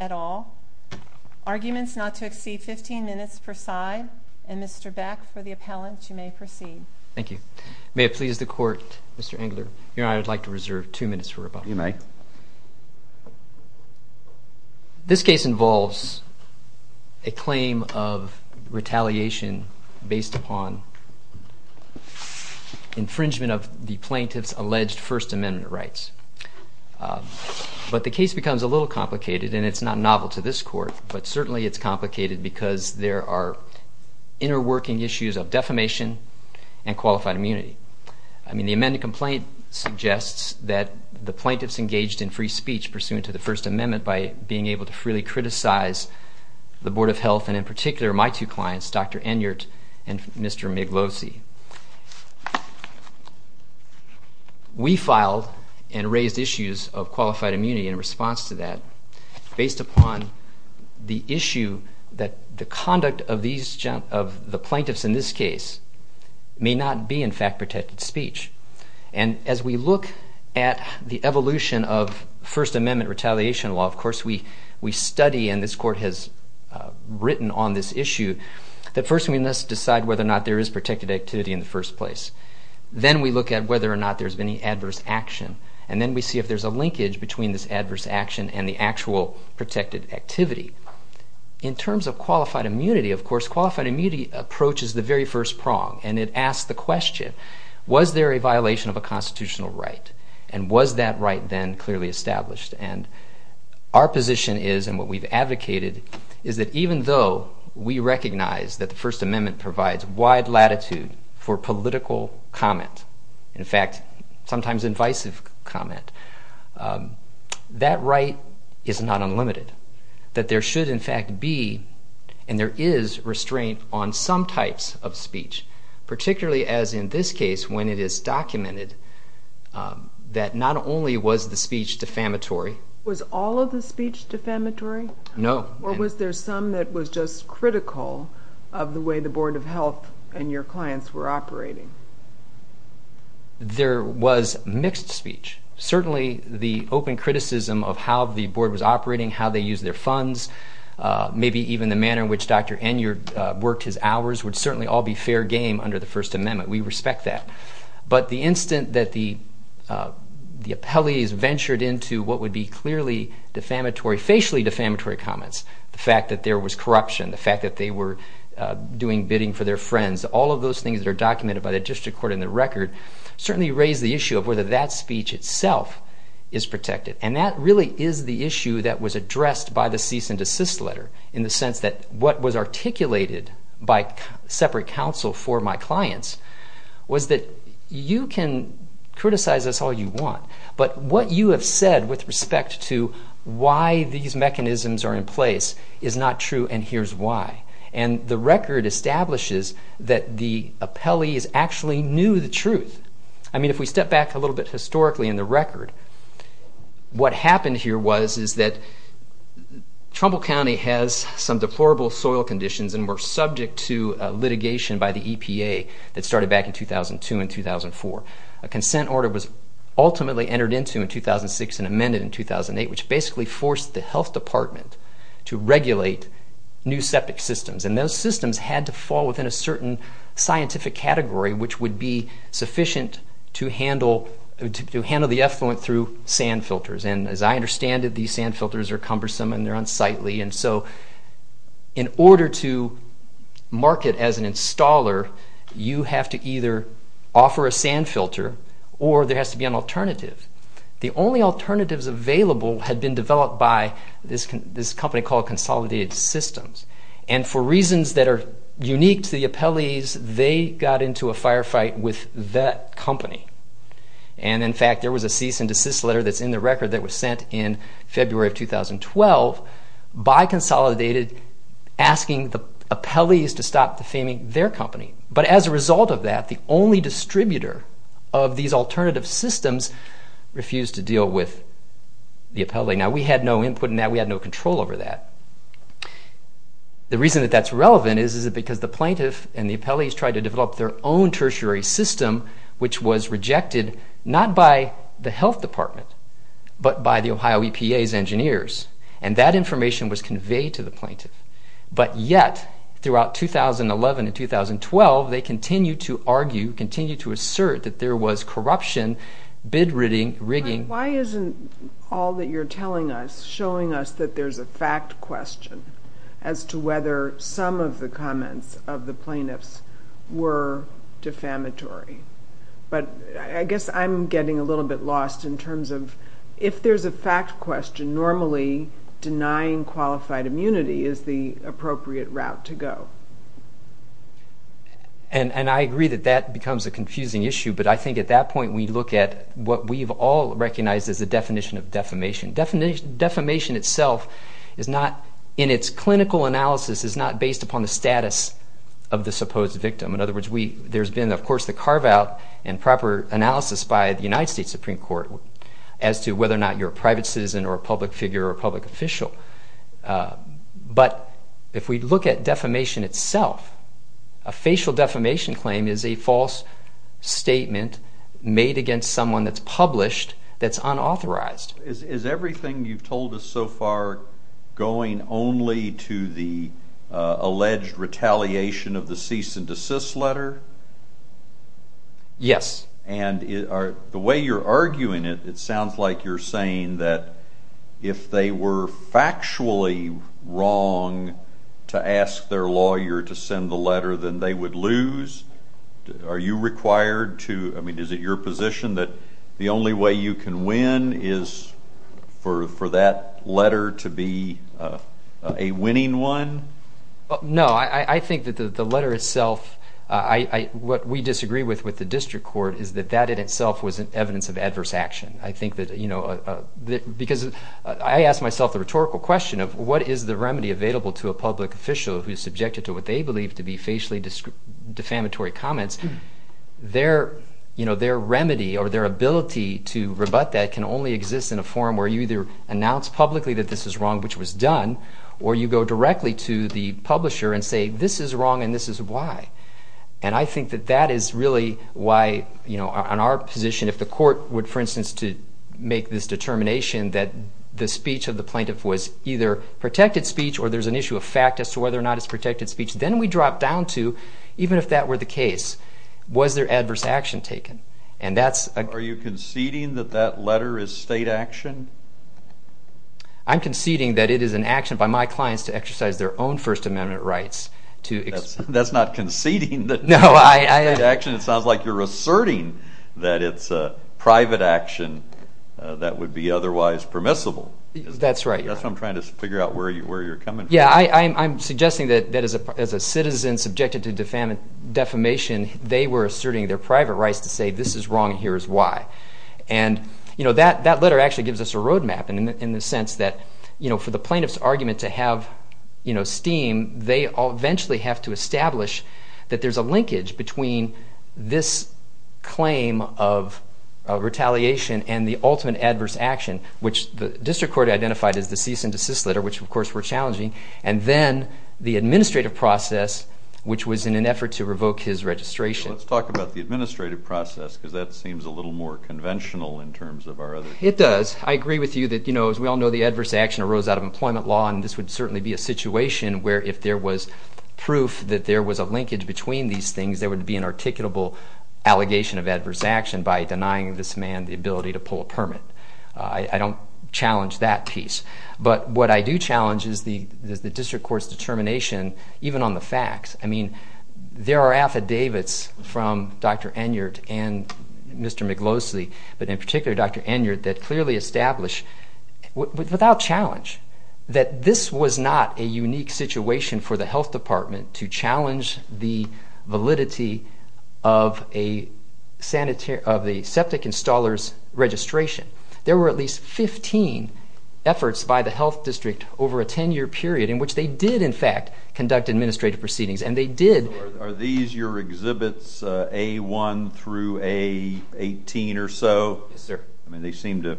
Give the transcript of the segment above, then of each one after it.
at all. Arguments not to exceed 15 minutes per side. And Mr. Beck, for the appellant, you may proceed. Thank you. May it please the court, Mr. Engler, Your Honor, I would like to reserve two minutes for rebuttal. You may. This case involves a claim of retaliation against the plaintiff based upon infringement of the plaintiff's alleged First Amendment rights. But the case becomes a little complicated, and it's not novel to this court, but certainly it's complicated because there are inner working issues of defamation and qualified immunity. I mean, the amended complaint suggests that the plaintiffs engaged in free speech pursuant to the First Amendment by being able to freely criticize the Board of Health, and in plaintiffs' two clients, Dr. Enyeart and Mr. Miglosi. We filed and raised issues of qualified immunity in response to that based upon the issue that the conduct of the plaintiffs in this case may not be, in fact, protected speech. As we look at the evolution of First Amendment retaliation law, of course, we study, and this court has written on this issue, that first we must decide whether or not there is protected activity in the first place. Then we look at whether or not there's been any adverse action. And then we see if there's a linkage between this adverse action and the actual protected activity. In terms of qualified immunity, of course, qualified immunity approaches the very first prong, and it asks the question, was there a violation of a constitutional right? And was that right then clearly established? And our position is, and what we've advocated, is that even though we recognize that the First Amendment provides wide latitude for political comment, in fact, sometimes invisive comment, that right is not unlimited. That there should, in fact, be and there is restraint on some types of speech, particularly as in this case when it is documented that not only was the speech defamatory. Was all of the speech defamatory? No. Or was there some that was just critical of the way the Board of Health and your clients were operating? There was mixed speech. Certainly the open criticism of how the board was trying to use their funds, maybe even the manner in which Dr. Enyard worked his hours would certainly all be fair game under the First Amendment. We respect that. But the instant that the appellees ventured into what would be clearly defamatory, facially defamatory comments, the fact that there was corruption, the fact that they were doing bidding for their friends, all of those things that are documented by the district court and the record, certainly raise the issue of whether that speech itself is protected. And that really is the issue that was addressed by the cease and desist letter in the sense that what was articulated by separate counsel for my clients was that you can criticize us all you want, but what you have said with respect to why these mechanisms are in place is not true and here's why. And the record establishes that the appellees actually knew the truth. I mean if we step back a little bit historically in the record, what happened here was is that Trumbull County has some deplorable soil conditions and were subject to litigation by the EPA that started back in 2002 and 2004. A consent order was ultimately entered into in 2006 and amended in 2008 which basically forced the health department to regulate new septic systems. And those systems had to fall within a certain scientific category which would be sufficient to handle the effluent through sand filters. And as I understand it, these sand filters are cumbersome and they're unsightly and so in order to market as an installer, you have to either offer a sand filter or there has to be an alternative. The only alternatives available had been developed by this company called Consolidated Systems and for reasons that are unique to the appellees, they got into a firefight with that company. And in fact, there was a cease and desist letter that's in the record that was sent in February of 2012 by Consolidated asking the appellees to stop defaming their company. But as a result of that, the only distributor of these alternative systems refused to deal with the appellee. Now we had no input in that, we had no control over that. The reason that that's relevant is because the plaintiff and the appellees tried to develop their own tertiary system which was rejected not by the health department, but by the Ohio EPA's engineers. And that information was conveyed to the plaintiff. But yet, throughout 2011 and 2012, they continued to argue, continued to assert that there was corruption, bid rigging. Why isn't all that you're telling us showing us that there's a fact question as to whether some of the comments of the plaintiffs were defamatory? But I guess I'm getting a little bit lost in terms of if there's a fact question, normally denying qualified immunity is the appropriate route to go. And I agree that that becomes a confusing issue, but I think at that point we look at what we've all recognized as the definition of defamation. Defamation itself is not, in its clinical analysis, is not based upon the status of the supposed victim. In other words, there's been, of course, the carve-out and proper analysis by the United States Supreme Court as to whether or not you're a private citizen or a public figure or a public official. But if we look at defamation itself, a facial defamation claim is a false statement made against someone that's published that's unauthorized. Is everything you've told us so far going only to the alleged retaliation of the cease and desist letter? Yes. And the way you're arguing it, it sounds like you're saying that if they were factually wrong to ask their lawyer to send the letter, then they would lose. Are you required to, I mean, is it your position that the only way you can win is for that letter to be a winning one? No. I think that the letter itself, what we disagree with with the district court is that that in itself was evidence of adverse action. I think that, you know, because I ask myself the rhetorical question of what is the remedy available to a public official who is subjected to what they believe to be facially defamatory comments. Their remedy or their ability to rebut that can only exist in a forum where you either announce publicly that this is wrong, which was done, or you go directly to the publisher and say this is wrong and this is why. And I think that that is really why, you know, on our position, if the court would, for instance, make this determination that the speech of the plaintiff was either protected speech or there's an issue of fact as to whether or not it's protected speech, then we drop down to, even if that were the case, was there adverse action taken? Are you conceding that that letter is state action? I'm conceding that it is an action by my clients to exercise their own First Amendment rights. That's not conceding that it's state action. State action? It sounds like you're asserting that it's private action that would be otherwise permissible. That's right. That's what I'm trying to figure out where you're coming from. Yeah, I'm suggesting that as a citizen subjected to defamation, they were asserting their private rights to say this is wrong and here is why. And, you know, that letter actually gives us a roadmap in the sense that, you know, for the plaintiff's argument to have, you know, steam, they eventually have to establish that there's a linkage between this claim of retaliation and the ultimate adverse action, which the district court identified as the cease and desist letter, which, of course, were challenging, and then the administrative process, which was in an effort to revoke his registration. Let's talk about the administrative process because that seems a little more conventional in terms of our other cases. It does. I agree with you that, you know, as we all know, the adverse action arose out of employment law, and this would certainly be a situation where if there was proof that there was a linkage between these things, there would be an articulable allegation of adverse action by denying this man the ability to pull a permit. I don't challenge that piece. But what I do challenge is the district court's determination even on the facts. I mean, there are affidavits from Dr. Enyart and Mr. McLosey, but in particular Dr. Enyart, that clearly establish without challenge that this was not a unique situation for the health department to challenge the validity of a septic installer's registration. There were at least 15 efforts by the health district over a 10-year period in which they did, in fact, conduct administrative proceedings, and they did. Are these your exhibits, A1 through A18 or so? Yes, sir. I mean, they seem to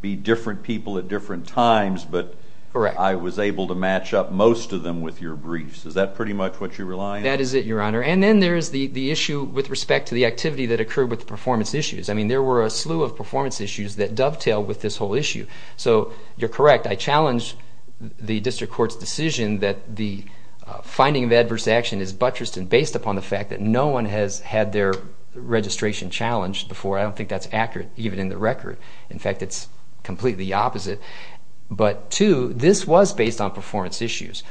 be different people at different times, but I was able to match up most of them with your briefs. Is that pretty much what you rely on? That is it, Your Honor. And then there is the issue with respect to the activity that occurred with the performance issues. I mean, there were a slew of performance issues that dovetail with this whole issue. So you're correct, I challenge the district court's decision that the finding of adverse action is buttressed and based upon the fact that no one has had their registration challenged before. I don't think that's accurate, even in the record. In fact, it's completely the opposite. But two, this was based on performance issues.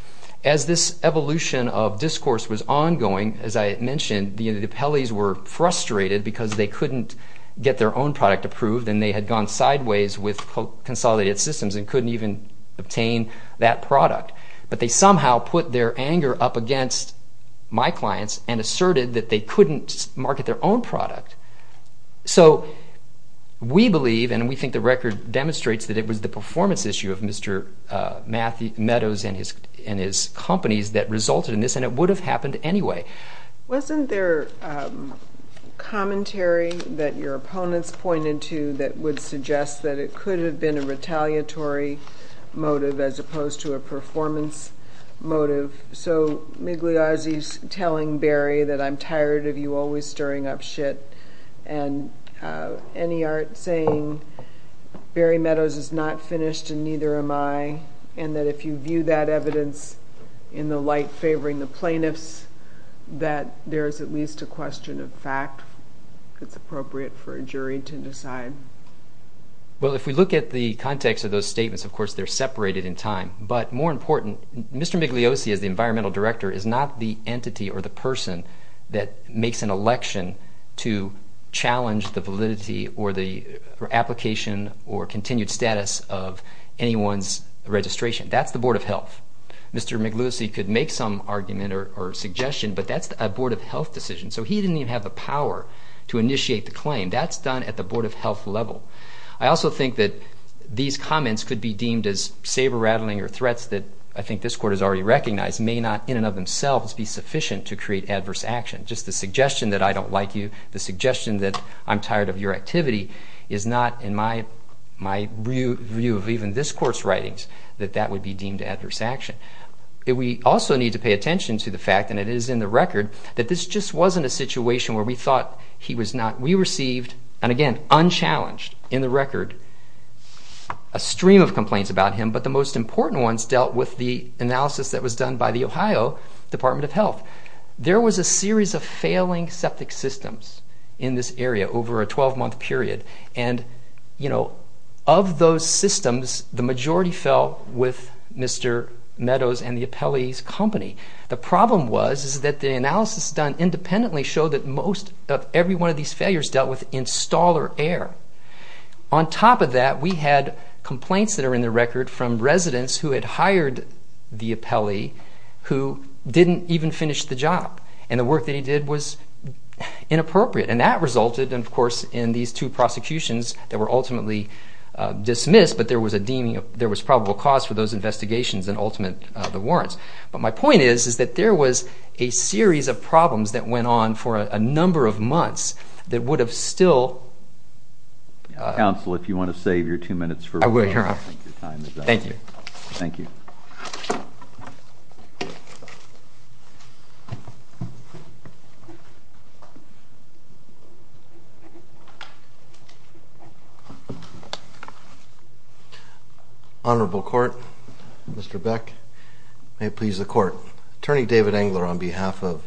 As this evolution of discourse was ongoing, as I mentioned, the appellees were frustrated because they couldn't get their own product approved and they had gone sideways with consolidated systems and couldn't even obtain that product. But they somehow put their anger up against my clients and asserted that they couldn't market their own product. So we believe, and we think the record demonstrates, that it was the performance issue of Mr. Meadows and his companies that resulted in this, and it would have happened anyway. Wasn't there commentary that your opponents pointed to that would suggest that it could have been a retaliatory motive as opposed to a performance motive? So Migliosi's telling Berry that I'm tired of you always stirring up shit and Enyart saying Berry Meadows is not finished and neither am I and that if you view that evidence in the light favoring the plaintiffs that there is at least a question of fact that's appropriate for a jury to decide. Well, if we look at the context of those statements, of course, they're separated in time. But more important, Mr. Migliosi, as the environmental director, is not the entity or the person that makes an election to challenge the validity or the application or continued status of anyone's registration. That's the Board of Health. Mr. Migliosi could make some argument or suggestion, but that's a Board of Health decision, so he didn't even have the power to initiate the claim. That's done at the Board of Health level. I also think that these comments could be deemed as saber-rattling or threats that I think this Court has already recognized may not in and of themselves be sufficient to create adverse action. Just the suggestion that I don't like you, the suggestion that I'm tired of your activity is not in my view of even this Court's writings that that would be deemed adverse action. We also need to pay attention to the fact, and it is in the record, that this just wasn't a situation where we thought he was not. We received, and again, unchallenged in the record, a stream of complaints about him, but the most important ones dealt with the analysis that was done by the Ohio Department of Health. There was a series of failing septic systems in this area over a 12-month period, and of those systems, the majority fell with Mr. Meadows and the appellees' company. The problem was that the analysis done independently showed that most of every one of these failures dealt with installer error. On top of that, we had complaints that are in the record from residents who had hired the appellee who didn't even finish the job, and the work that he did was inappropriate, and that resulted, of course, in these two prosecutions that were ultimately dismissed, but there was probable cause for those investigations and ultimately the warrants. But my point is that there was a series of problems that went on for a number of months that would have still... Counsel, if you want to save your two minutes for... I will, Your Honor. Thank you. Thank you. Honorable Court, Mr. Beck, may it please the Court, Attorney David Engler on behalf of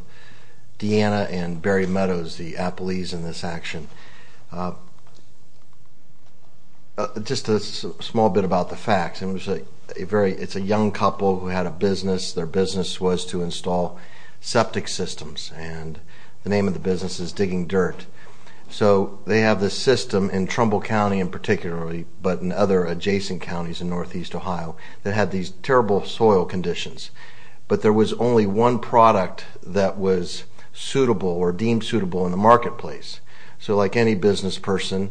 Deanna and Barry Meadows, the appellees in this action. Just a small bit about the facts. It's a young couple who had a business. Their business was to install septic systems, and the name of the business is Digging Dirt. So they have this system in Trumbull County in particular, but in other adjacent counties in Northeast Ohio that had these terrible soil conditions, but there was only one product that was suitable or deemed suitable in the marketplace. So like any business person,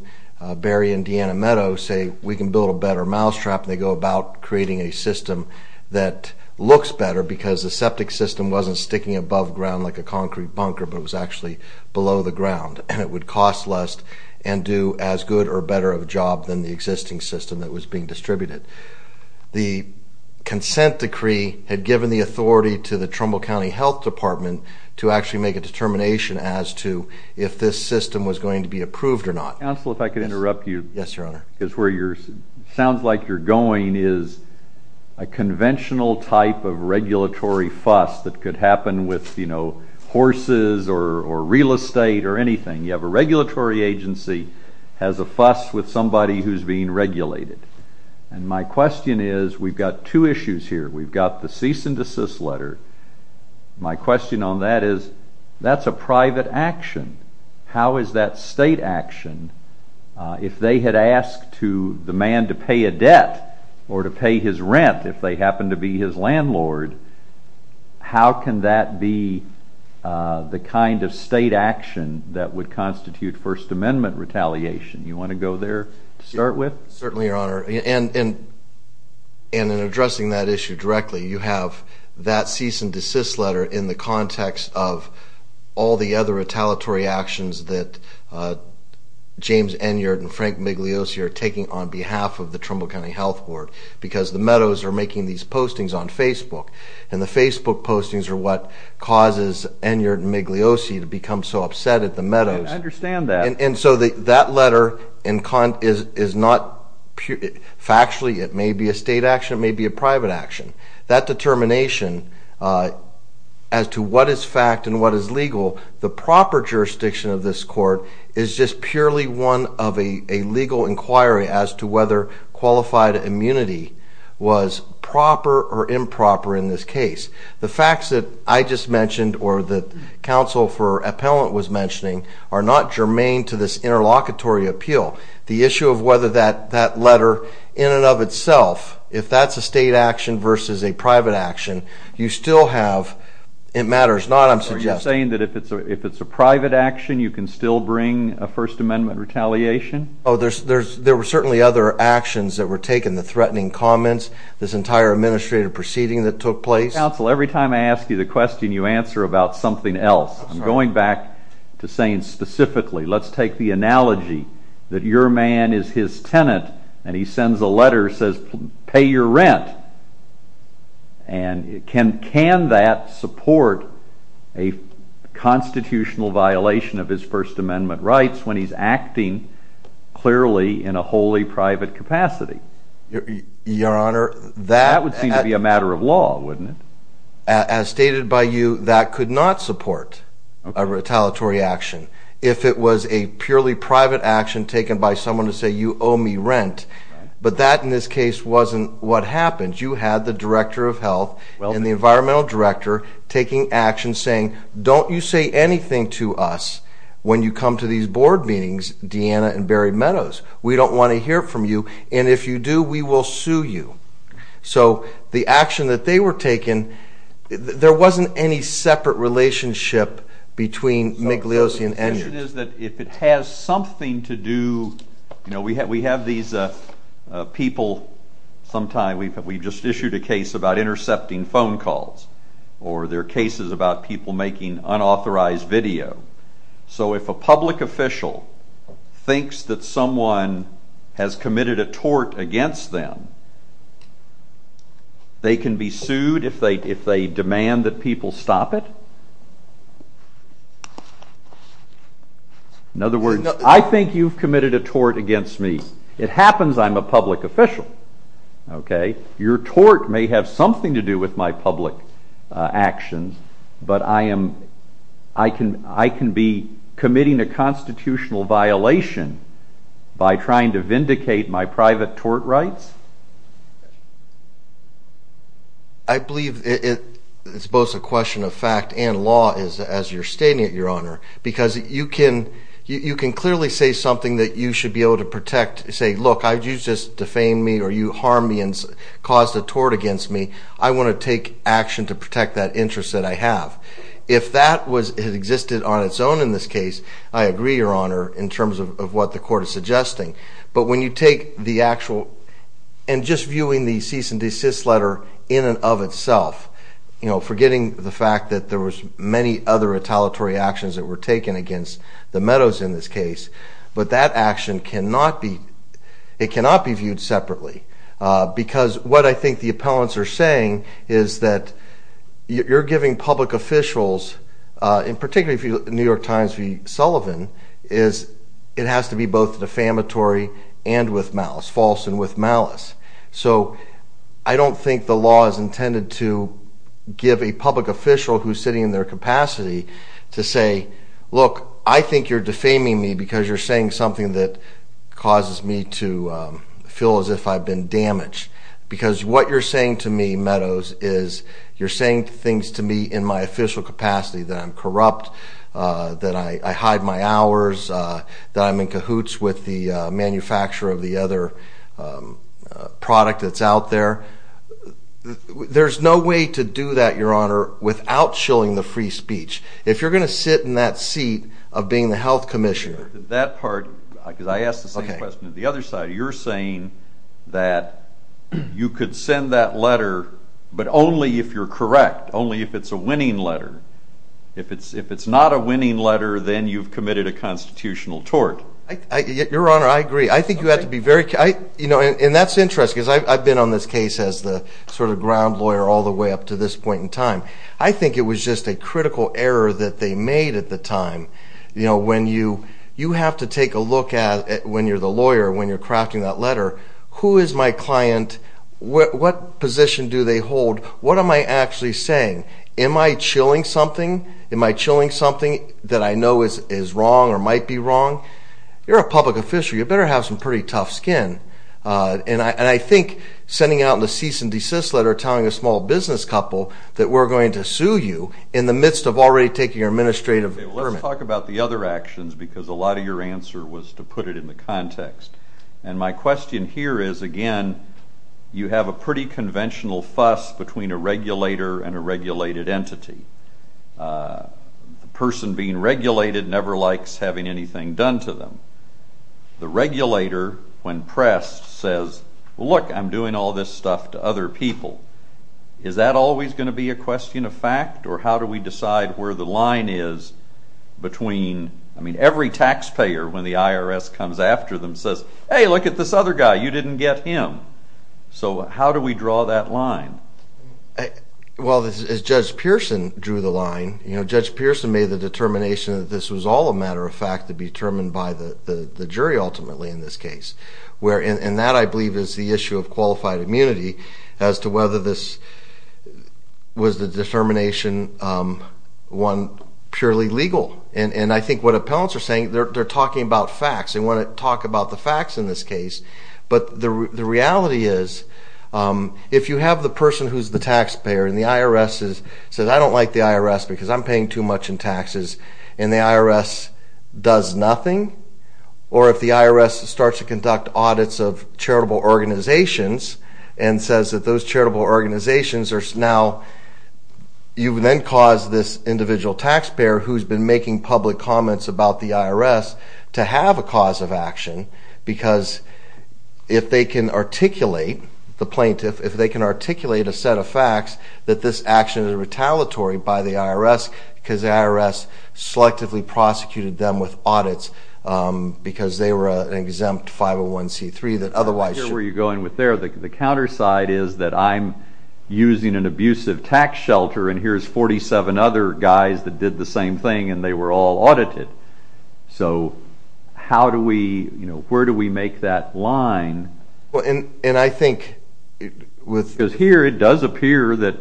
Barry and Deanna Meadows say, we can build a better mousetrap, and they go about creating a system that looks better because the septic system wasn't sticking above ground like a concrete bunker, but it was actually below the ground, and it would cost less and do as good or better of a job than the existing system that was being distributed. The consent decree had given the authority to the Trumbull County Health Department to actually make a determination as to if this system was going to be approved or not. Counsel, if I could interrupt you. Yes, Your Honor. Because where it sounds like you're going is a conventional type of regulatory fuss that could happen with horses or real estate or anything. You have a regulatory agency has a fuss with somebody who's being regulated, and my question is, we've got two issues here. We've got the cease and desist letter. My question on that is, that's a private action. How is that state action? If they had asked the man to pay a debt or to pay his rent, if they happened to be his landlord, how can that be the kind of state action that would constitute First Amendment retaliation? You want to go there to start with? Certainly, Your Honor. And in addressing that issue directly, you have that cease and desist letter in the context of all the other retaliatory actions that James Enyard and Frank Migliosi are taking on behalf of the Trumbull County Health Board because the Meadows are making these postings on Facebook, and the Facebook postings are what causes Enyard and Migliosi to become so upset at the Meadows. I understand that. And so that letter is not factually. It may be a state action. It may be a private action. That determination as to what is fact and what is legal, the proper jurisdiction of this court is just purely one of a legal inquiry as to whether qualified immunity was proper or improper in this case. or that counsel for appellant was mentioning are not germane to this interlocutory appeal. The issue of whether that letter in and of itself, if that's a state action versus a private action, you still have it matters not, I'm suggesting. Are you saying that if it's a private action, you can still bring a First Amendment retaliation? Oh, there were certainly other actions that were taken, the threatening comments, this entire administrative proceeding that took place. Counsel, every time I ask you the question, you answer about something else. I'm going back to saying specifically, let's take the analogy that your man is his tenant and he sends a letter, says, pay your rent. And can that support a constitutional violation of his First Amendment rights when he's acting clearly in a wholly private capacity? Your Honor, that... That would seem to be a matter of law, wouldn't it? As stated by you, that could not support a retaliatory action if it was a purely private action taken by someone to say, you owe me rent. But that, in this case, wasn't what happened. You had the Director of Health and the Environmental Director taking action saying, don't you say anything to us when you come to these board meetings, Deanna and Barry Meadows. We don't want to hear from you. And if you do, we will sue you. So the action that they were taking, there wasn't any separate relationship between Migliosi and Ennard. The question is that if it has something to do... You know, we have these people, sometimes we've just issued a case about intercepting phone calls, or there are cases about people making unauthorized video. So if a public official thinks that someone has committed a tort against them, they can be sued if they demand that people stop it? In other words, I think you've committed a tort against me. It happens I'm a public official. Your tort may have something to do with my public actions, but I can be committing a constitutional violation by trying to vindicate my private tort rights? I believe it's both a question of fact and law, as you're stating it, Your Honor, because you can clearly say something that you should be able to protect. Say, look, you just defamed me, or you harmed me and caused a tort against me. I want to take action to protect that interest that I have. If that existed on its own in this case, I agree, Your Honor, in terms of what the court is suggesting. But when you take the actual, and just viewing the cease and desist letter in and of itself, forgetting the fact that there were many other retaliatory actions that were taken against the Meadows in this case, but that action cannot be viewed separately, because what I think the appellants are saying is that you're giving public officials, and particularly New York Times v. Sullivan, is it has to be both defamatory and with malice, false and with malice. So I don't think the law is intended to give a public official who's sitting in their capacity to say, look, I think you're defaming me because you're saying something that causes me to feel as if I've been damaged, because what you're saying to me, Meadows, is you're saying things to me in my official capacity that I'm corrupt, that I hide my hours, that I'm in cahoots with the manufacturer of the other product that's out there. There's no way to do that, Your Honor, without shilling the free speech. If you're going to sit in that seat of being the health commissioner... That part, because I asked the same question on the other side. You're saying that you could send that letter but only if you're correct, only if it's a winning letter. If it's not a winning letter, then you've committed a constitutional tort. Your Honor, I agree. I think you have to be very... And that's interesting, because I've been on this case as the sort of ground lawyer all the way up to this point in time. I think it was just a critical error that they made at the time. You have to take a look at, when you're the lawyer, when you're crafting that letter, who is my client, what position do they hold, what am I actually saying? Am I shilling something? Am I shilling something that I know is wrong or might be wrong? You're a public official. You better have some pretty tough skin. And I think sending out the cease-and-desist letter telling a small business couple that we're going to sue you in the midst of already taking your administrative permit... Let's talk about the other actions, because a lot of your answer was to put it in the context. And my question here is, again, you have a pretty conventional fuss between a regulator and a regulated entity. The person being regulated never likes having anything done to them. The regulator, when pressed, says, look, I'm doing all this stuff to other people. Is that always going to be a question of fact, or how do we decide where the line is between... I mean, every taxpayer, when the IRS comes after them, says, hey, look at this other guy, you didn't get him. So how do we draw that line? Well, as Judge Pearson drew the line, Judge Pearson made the determination that this was all a matter of fact to be determined by the jury, ultimately, in this case. And that, I believe, is the issue of qualified immunity as to whether this was the determination, one, purely legal. And I think what appellants are saying, they're talking about facts. They want to talk about the facts in this case. But the reality is, if you have the person who's the taxpayer and the IRS says, I don't like the IRS because I'm paying too much in taxes, and the IRS does nothing, or if the IRS starts to conduct audits of charitable organizations and says that those charitable organizations are now... You then cause this individual taxpayer who's been making public comments about the IRS to have a cause of action because if they can articulate, the plaintiff, if they can articulate a set of facts that this action is retaliatory by the IRS because the IRS selectively prosecuted them with audits because they were an exempt 501c3 that otherwise should... I'm not sure where you're going with there. The counterside is that I'm using an abusive tax shelter and here's 47 other guys that did the same thing and they were all audited. So how do we... where do we make that line? And I think... Because here it does appear that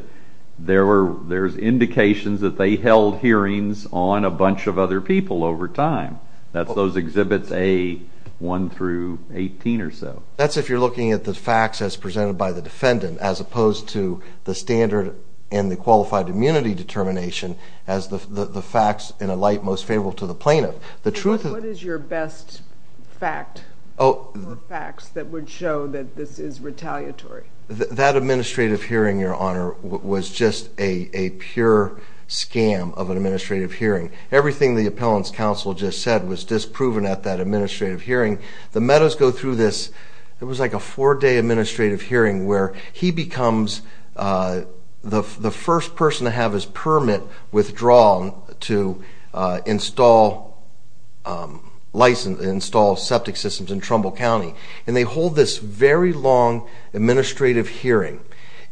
there's indications that they held hearings on a bunch of other people over time. That's those Exhibits A, 1 through 18 or so. That's if you're looking at the facts as presented by the defendant as opposed to the standard and the qualified immunity determination as the facts in a light most favorable to the plaintiff. What is your best fact or facts that would show that this is retaliatory? That administrative hearing, Your Honor, was just a pure scam of an administrative hearing. Everything the Appellants' Counsel just said was disproven at that administrative hearing. The Meadows go through this... It was like a four-day administrative hearing where he becomes the first person to have his permit withdrawn to install septic systems in Trumbull County. And they hold this very long administrative hearing.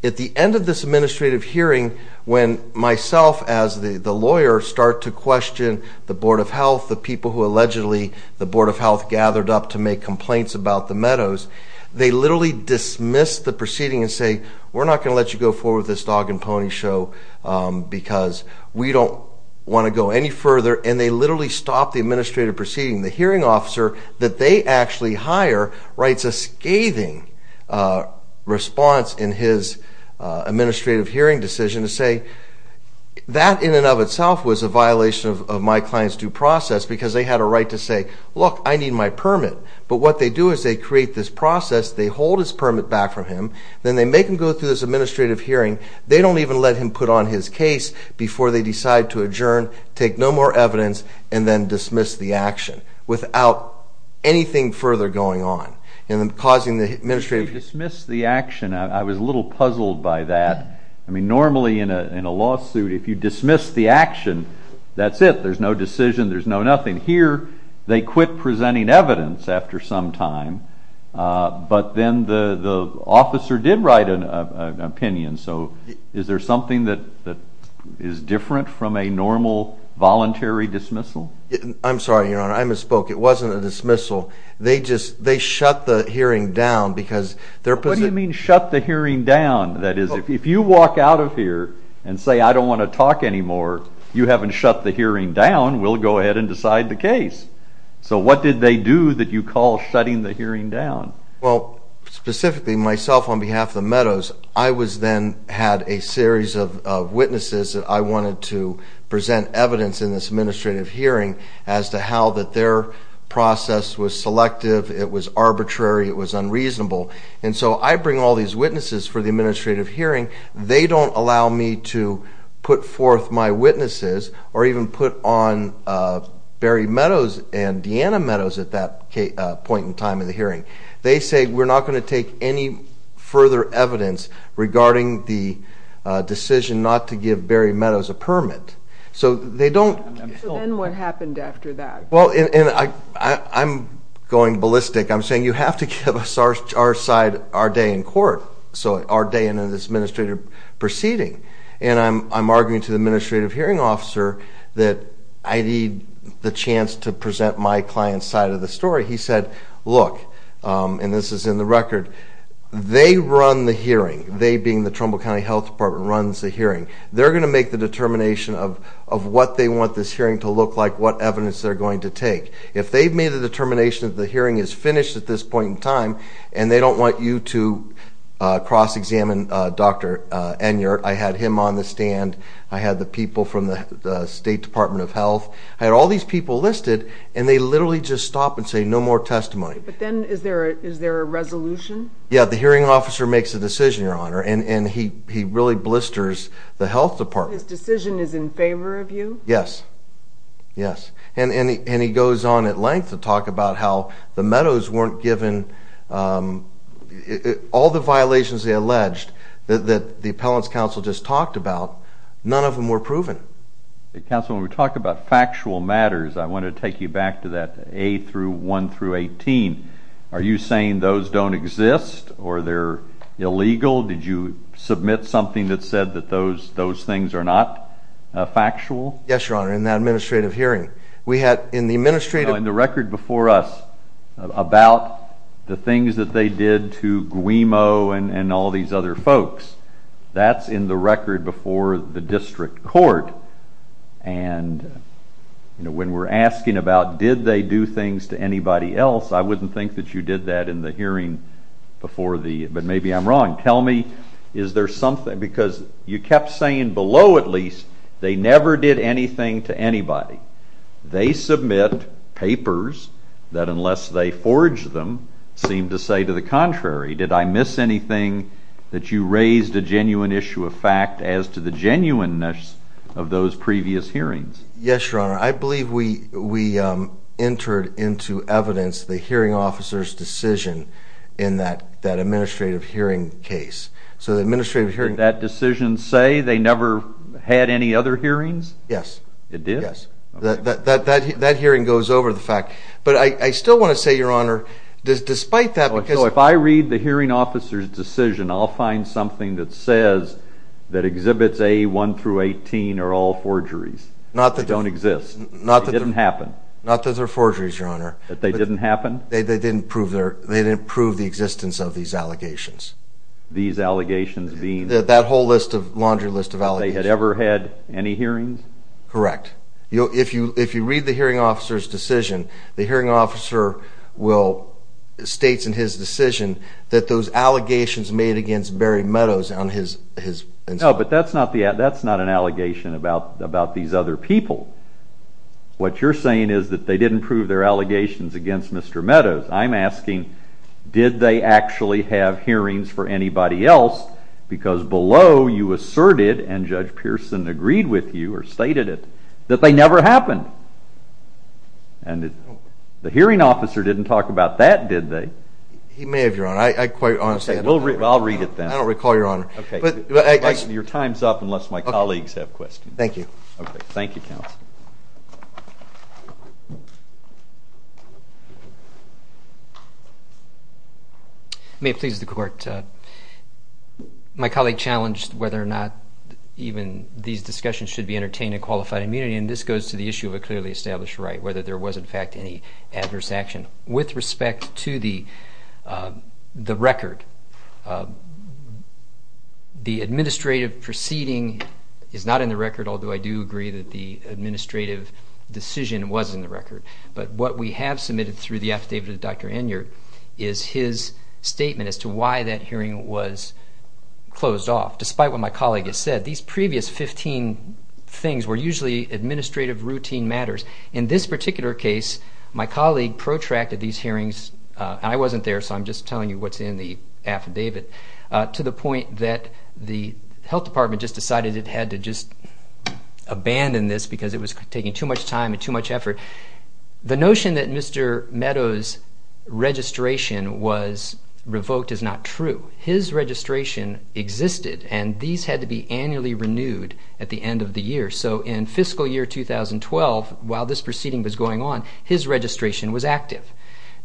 At the end of this administrative hearing, when myself as the lawyer start to question the Board of Health, the people who allegedly the Board of Health gathered up to make complaints about the Meadows, they literally dismiss the proceeding and say, we're not going to let you go forward with this dog-and-pony show because we don't want to go any further. And they literally stop the administrative proceeding. The hearing officer that they actually hire writes a scathing response in his administrative hearing decision to say, that in and of itself was a violation of my client's due process because they had a right to say, look, I need my permit. But what they do is they create this process. They hold his permit back from him. Then they make him go through this administrative hearing. They don't even let him put on his case before they decide to adjourn, take no more evidence, and then dismiss the action without anything further going on. And then causing the administrative... If you dismiss the action, I was a little puzzled by that. I mean, normally in a lawsuit, if you dismiss the action, that's it. There's no decision. There's no nothing. Here they quit presenting evidence after some time, but then the officer did write an opinion. So is there something that is different from a normal voluntary dismissal? I'm sorry, Your Honor, I misspoke. It wasn't a dismissal. They just shut the hearing down because their position... What do you mean shut the hearing down? That is, if you walk out of here and say, I don't want to talk anymore, you haven't shut the hearing down. We'll go ahead and decide the case. So what did they do that you call shutting the hearing down? Well, specifically myself on behalf of the Meadows, I then had a series of witnesses that I wanted to present evidence in this administrative hearing as to how their process was selective, it was arbitrary, it was unreasonable. And so I bring all these witnesses for the administrative hearing. They don't allow me to put forth my witnesses or even put on Barry Meadows and Deanna Meadows at that point in time of the hearing. They say we're not going to take any further evidence regarding the decision not to give Barry Meadows a permit. So they don't... So then what happened after that? Well, and I'm going ballistic. I'm saying you have to give us our day in court, so our day in this administrative proceeding. And I'm arguing to the administrative hearing officer that I need the chance to present my client's side of the story. He said, look, and this is in the record, they run the hearing, they being the Trumbull County Health Department, runs the hearing. They're going to make the determination of what they want this hearing to look like, what evidence they're going to take. If they've made the determination that the hearing is finished at this point in time, and they don't want you to cross-examine Dr. Enyart, I had him on the stand, I had the people from the State Department of Health, I had all these people listed, and they literally just stop and say no more testimony. But then is there a resolution? Yeah, the hearing officer makes a decision, Your Honor, and he really blisters the health department. His decision is in favor of you? Yes, yes. And he goes on at length to talk about how the Meadows weren't given... All the violations they alleged that the appellant's counsel just talked about, none of them were proven. Counsel, when we talk about factual matters, I want to take you back to that A-1-18. Are you saying those don't exist or they're illegal? Did you submit something that said that those things are not factual? Yes, Your Honor, in that administrative hearing. We had in the administrative... MIMO and all these other folks. That's in the record before the district court, and when we're asking about did they do things to anybody else, I wouldn't think that you did that in the hearing before the... But maybe I'm wrong. Tell me, is there something... Because you kept saying below, at least, they never did anything to anybody. They submit papers that unless they forged them seem to say to the contrary. Did I miss anything that you raised a genuine issue of fact as to the genuineness of those previous hearings? Yes, Your Honor. I believe we entered into evidence the hearing officer's decision in that administrative hearing case. So the administrative hearing... Did that decision say they never had any other hearings? Yes. It did? Yes. That hearing goes over the fact. But I still want to say, Your Honor, despite that... If I read the hearing officer's decision, I'll find something that says that Exhibits A1 through 18 are all forgeries. They don't exist. It didn't happen. Not that they're forgeries, Your Honor. That they didn't happen? They didn't prove the existence of these allegations. These allegations being? That whole laundry list of allegations. They had ever had any hearings? Correct. If you read the hearing officer's decision, the hearing officer states in his decision that those allegations made against Barry Meadows on his... No, but that's not an allegation about these other people. What you're saying is that they didn't prove their allegations against Mr. Meadows. I'm asking, did they actually have hearings for anybody else? Because below you asserted, and Judge Pearson agreed with you, or stated it, that they never happened. And the hearing officer didn't talk about that, did they? He may have, Your Honor. I quite honestly... I'll read it then. I don't recall, Your Honor. Your time's up unless my colleagues have questions. Thank you. Thank you, counsel. May it please the court. My colleague challenged whether or not even these discussions should be entertained in qualified immunity, and this goes to the issue of a clearly established right, whether there was, in fact, any adverse action. With respect to the record, the administrative proceeding is not in the record, although I do agree that the administrative decision was in the record. But what we have submitted through the affidavit of Dr. Enyart is his statement as to why that hearing was closed off. Despite what my colleague has said, these previous 15 things were usually administrative routine matters. In this particular case, my colleague protracted these hearings, and I wasn't there, so I'm just telling you what's in the affidavit, to the point that the health department just decided it had to just abandon this because it was taking too much time and too much effort. The notion that Mr. Meadows' registration was revoked is not true. His registration existed, and these had to be annually renewed at the end of the year. So in fiscal year 2012, while this proceeding was going on, his registration was active.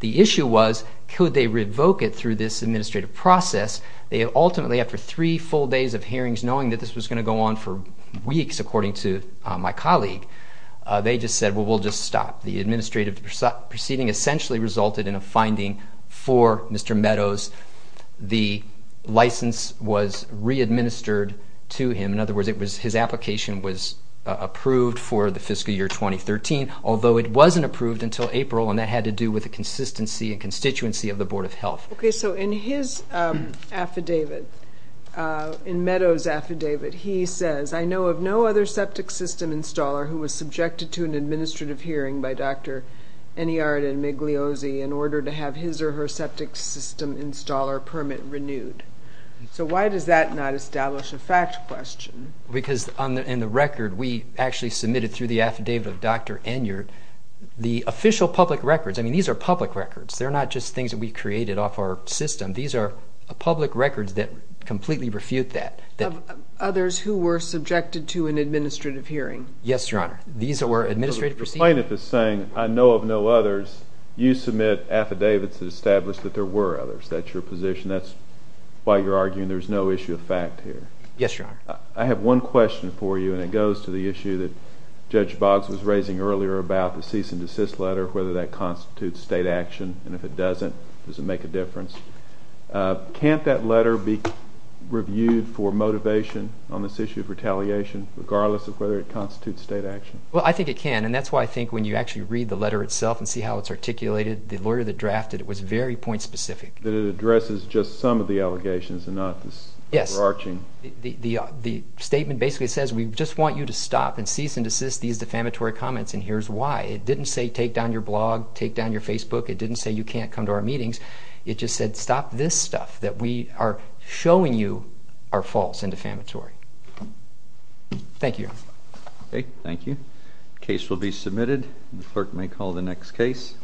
The issue was, could they revoke it through this administrative process? Ultimately, after three full days of hearings, knowing that this was going to go on for weeks, according to my colleague, they just said, well, we'll just stop. The administrative proceeding essentially resulted in a finding for Mr. Meadows. The license was re-administered to him. In other words, his application was approved for the fiscal year 2013, although it wasn't approved until April, and that had to do with the consistency and constituency of the Board of Health. Okay, so in his affidavit, in Meadows' affidavit, he says, I know of no other septic system installer who was subjected to an administrative hearing by Dr. Enyart and Meg Liozzi in order to have his or her septic system installer permit renewed. So why does that not establish a fact question? Because in the record, we actually submitted through the affidavit of Dr. Enyart the official public records. I mean, these are public records. They're not just things that we created off our system. These are public records that completely refute that. Of others who were subjected to an administrative hearing. Yes, Your Honor. These were administrative proceedings. So the plaintiff is saying, I know of no others. You submit affidavits that establish that there were others. That's your position. That's why you're arguing there's no issue of fact here. Yes, Your Honor. I have one question for you, and it goes to the issue that Judge Boggs was raising earlier about the cease and desist letter, whether that constitutes state action. And if it doesn't, does it make a difference? Can't that letter be reviewed for motivation on this issue of retaliation, regardless of whether it constitutes state action? Well, I think it can. And that's why I think when you actually read the letter itself and see how it's articulated, the lawyer that drafted it was very point specific. That it addresses just some of the allegations and not the overarching. Yes. The statement basically says we just want you to stop and cease and desist these defamatory comments, and here's why. It didn't say take down your blog, take down your Facebook. It didn't say you can't come to our meetings. It just said stop this stuff that we are showing you are false and defamatory. Thank you, Your Honor. Okay, thank you. Case will be submitted. The clerk may call the next case.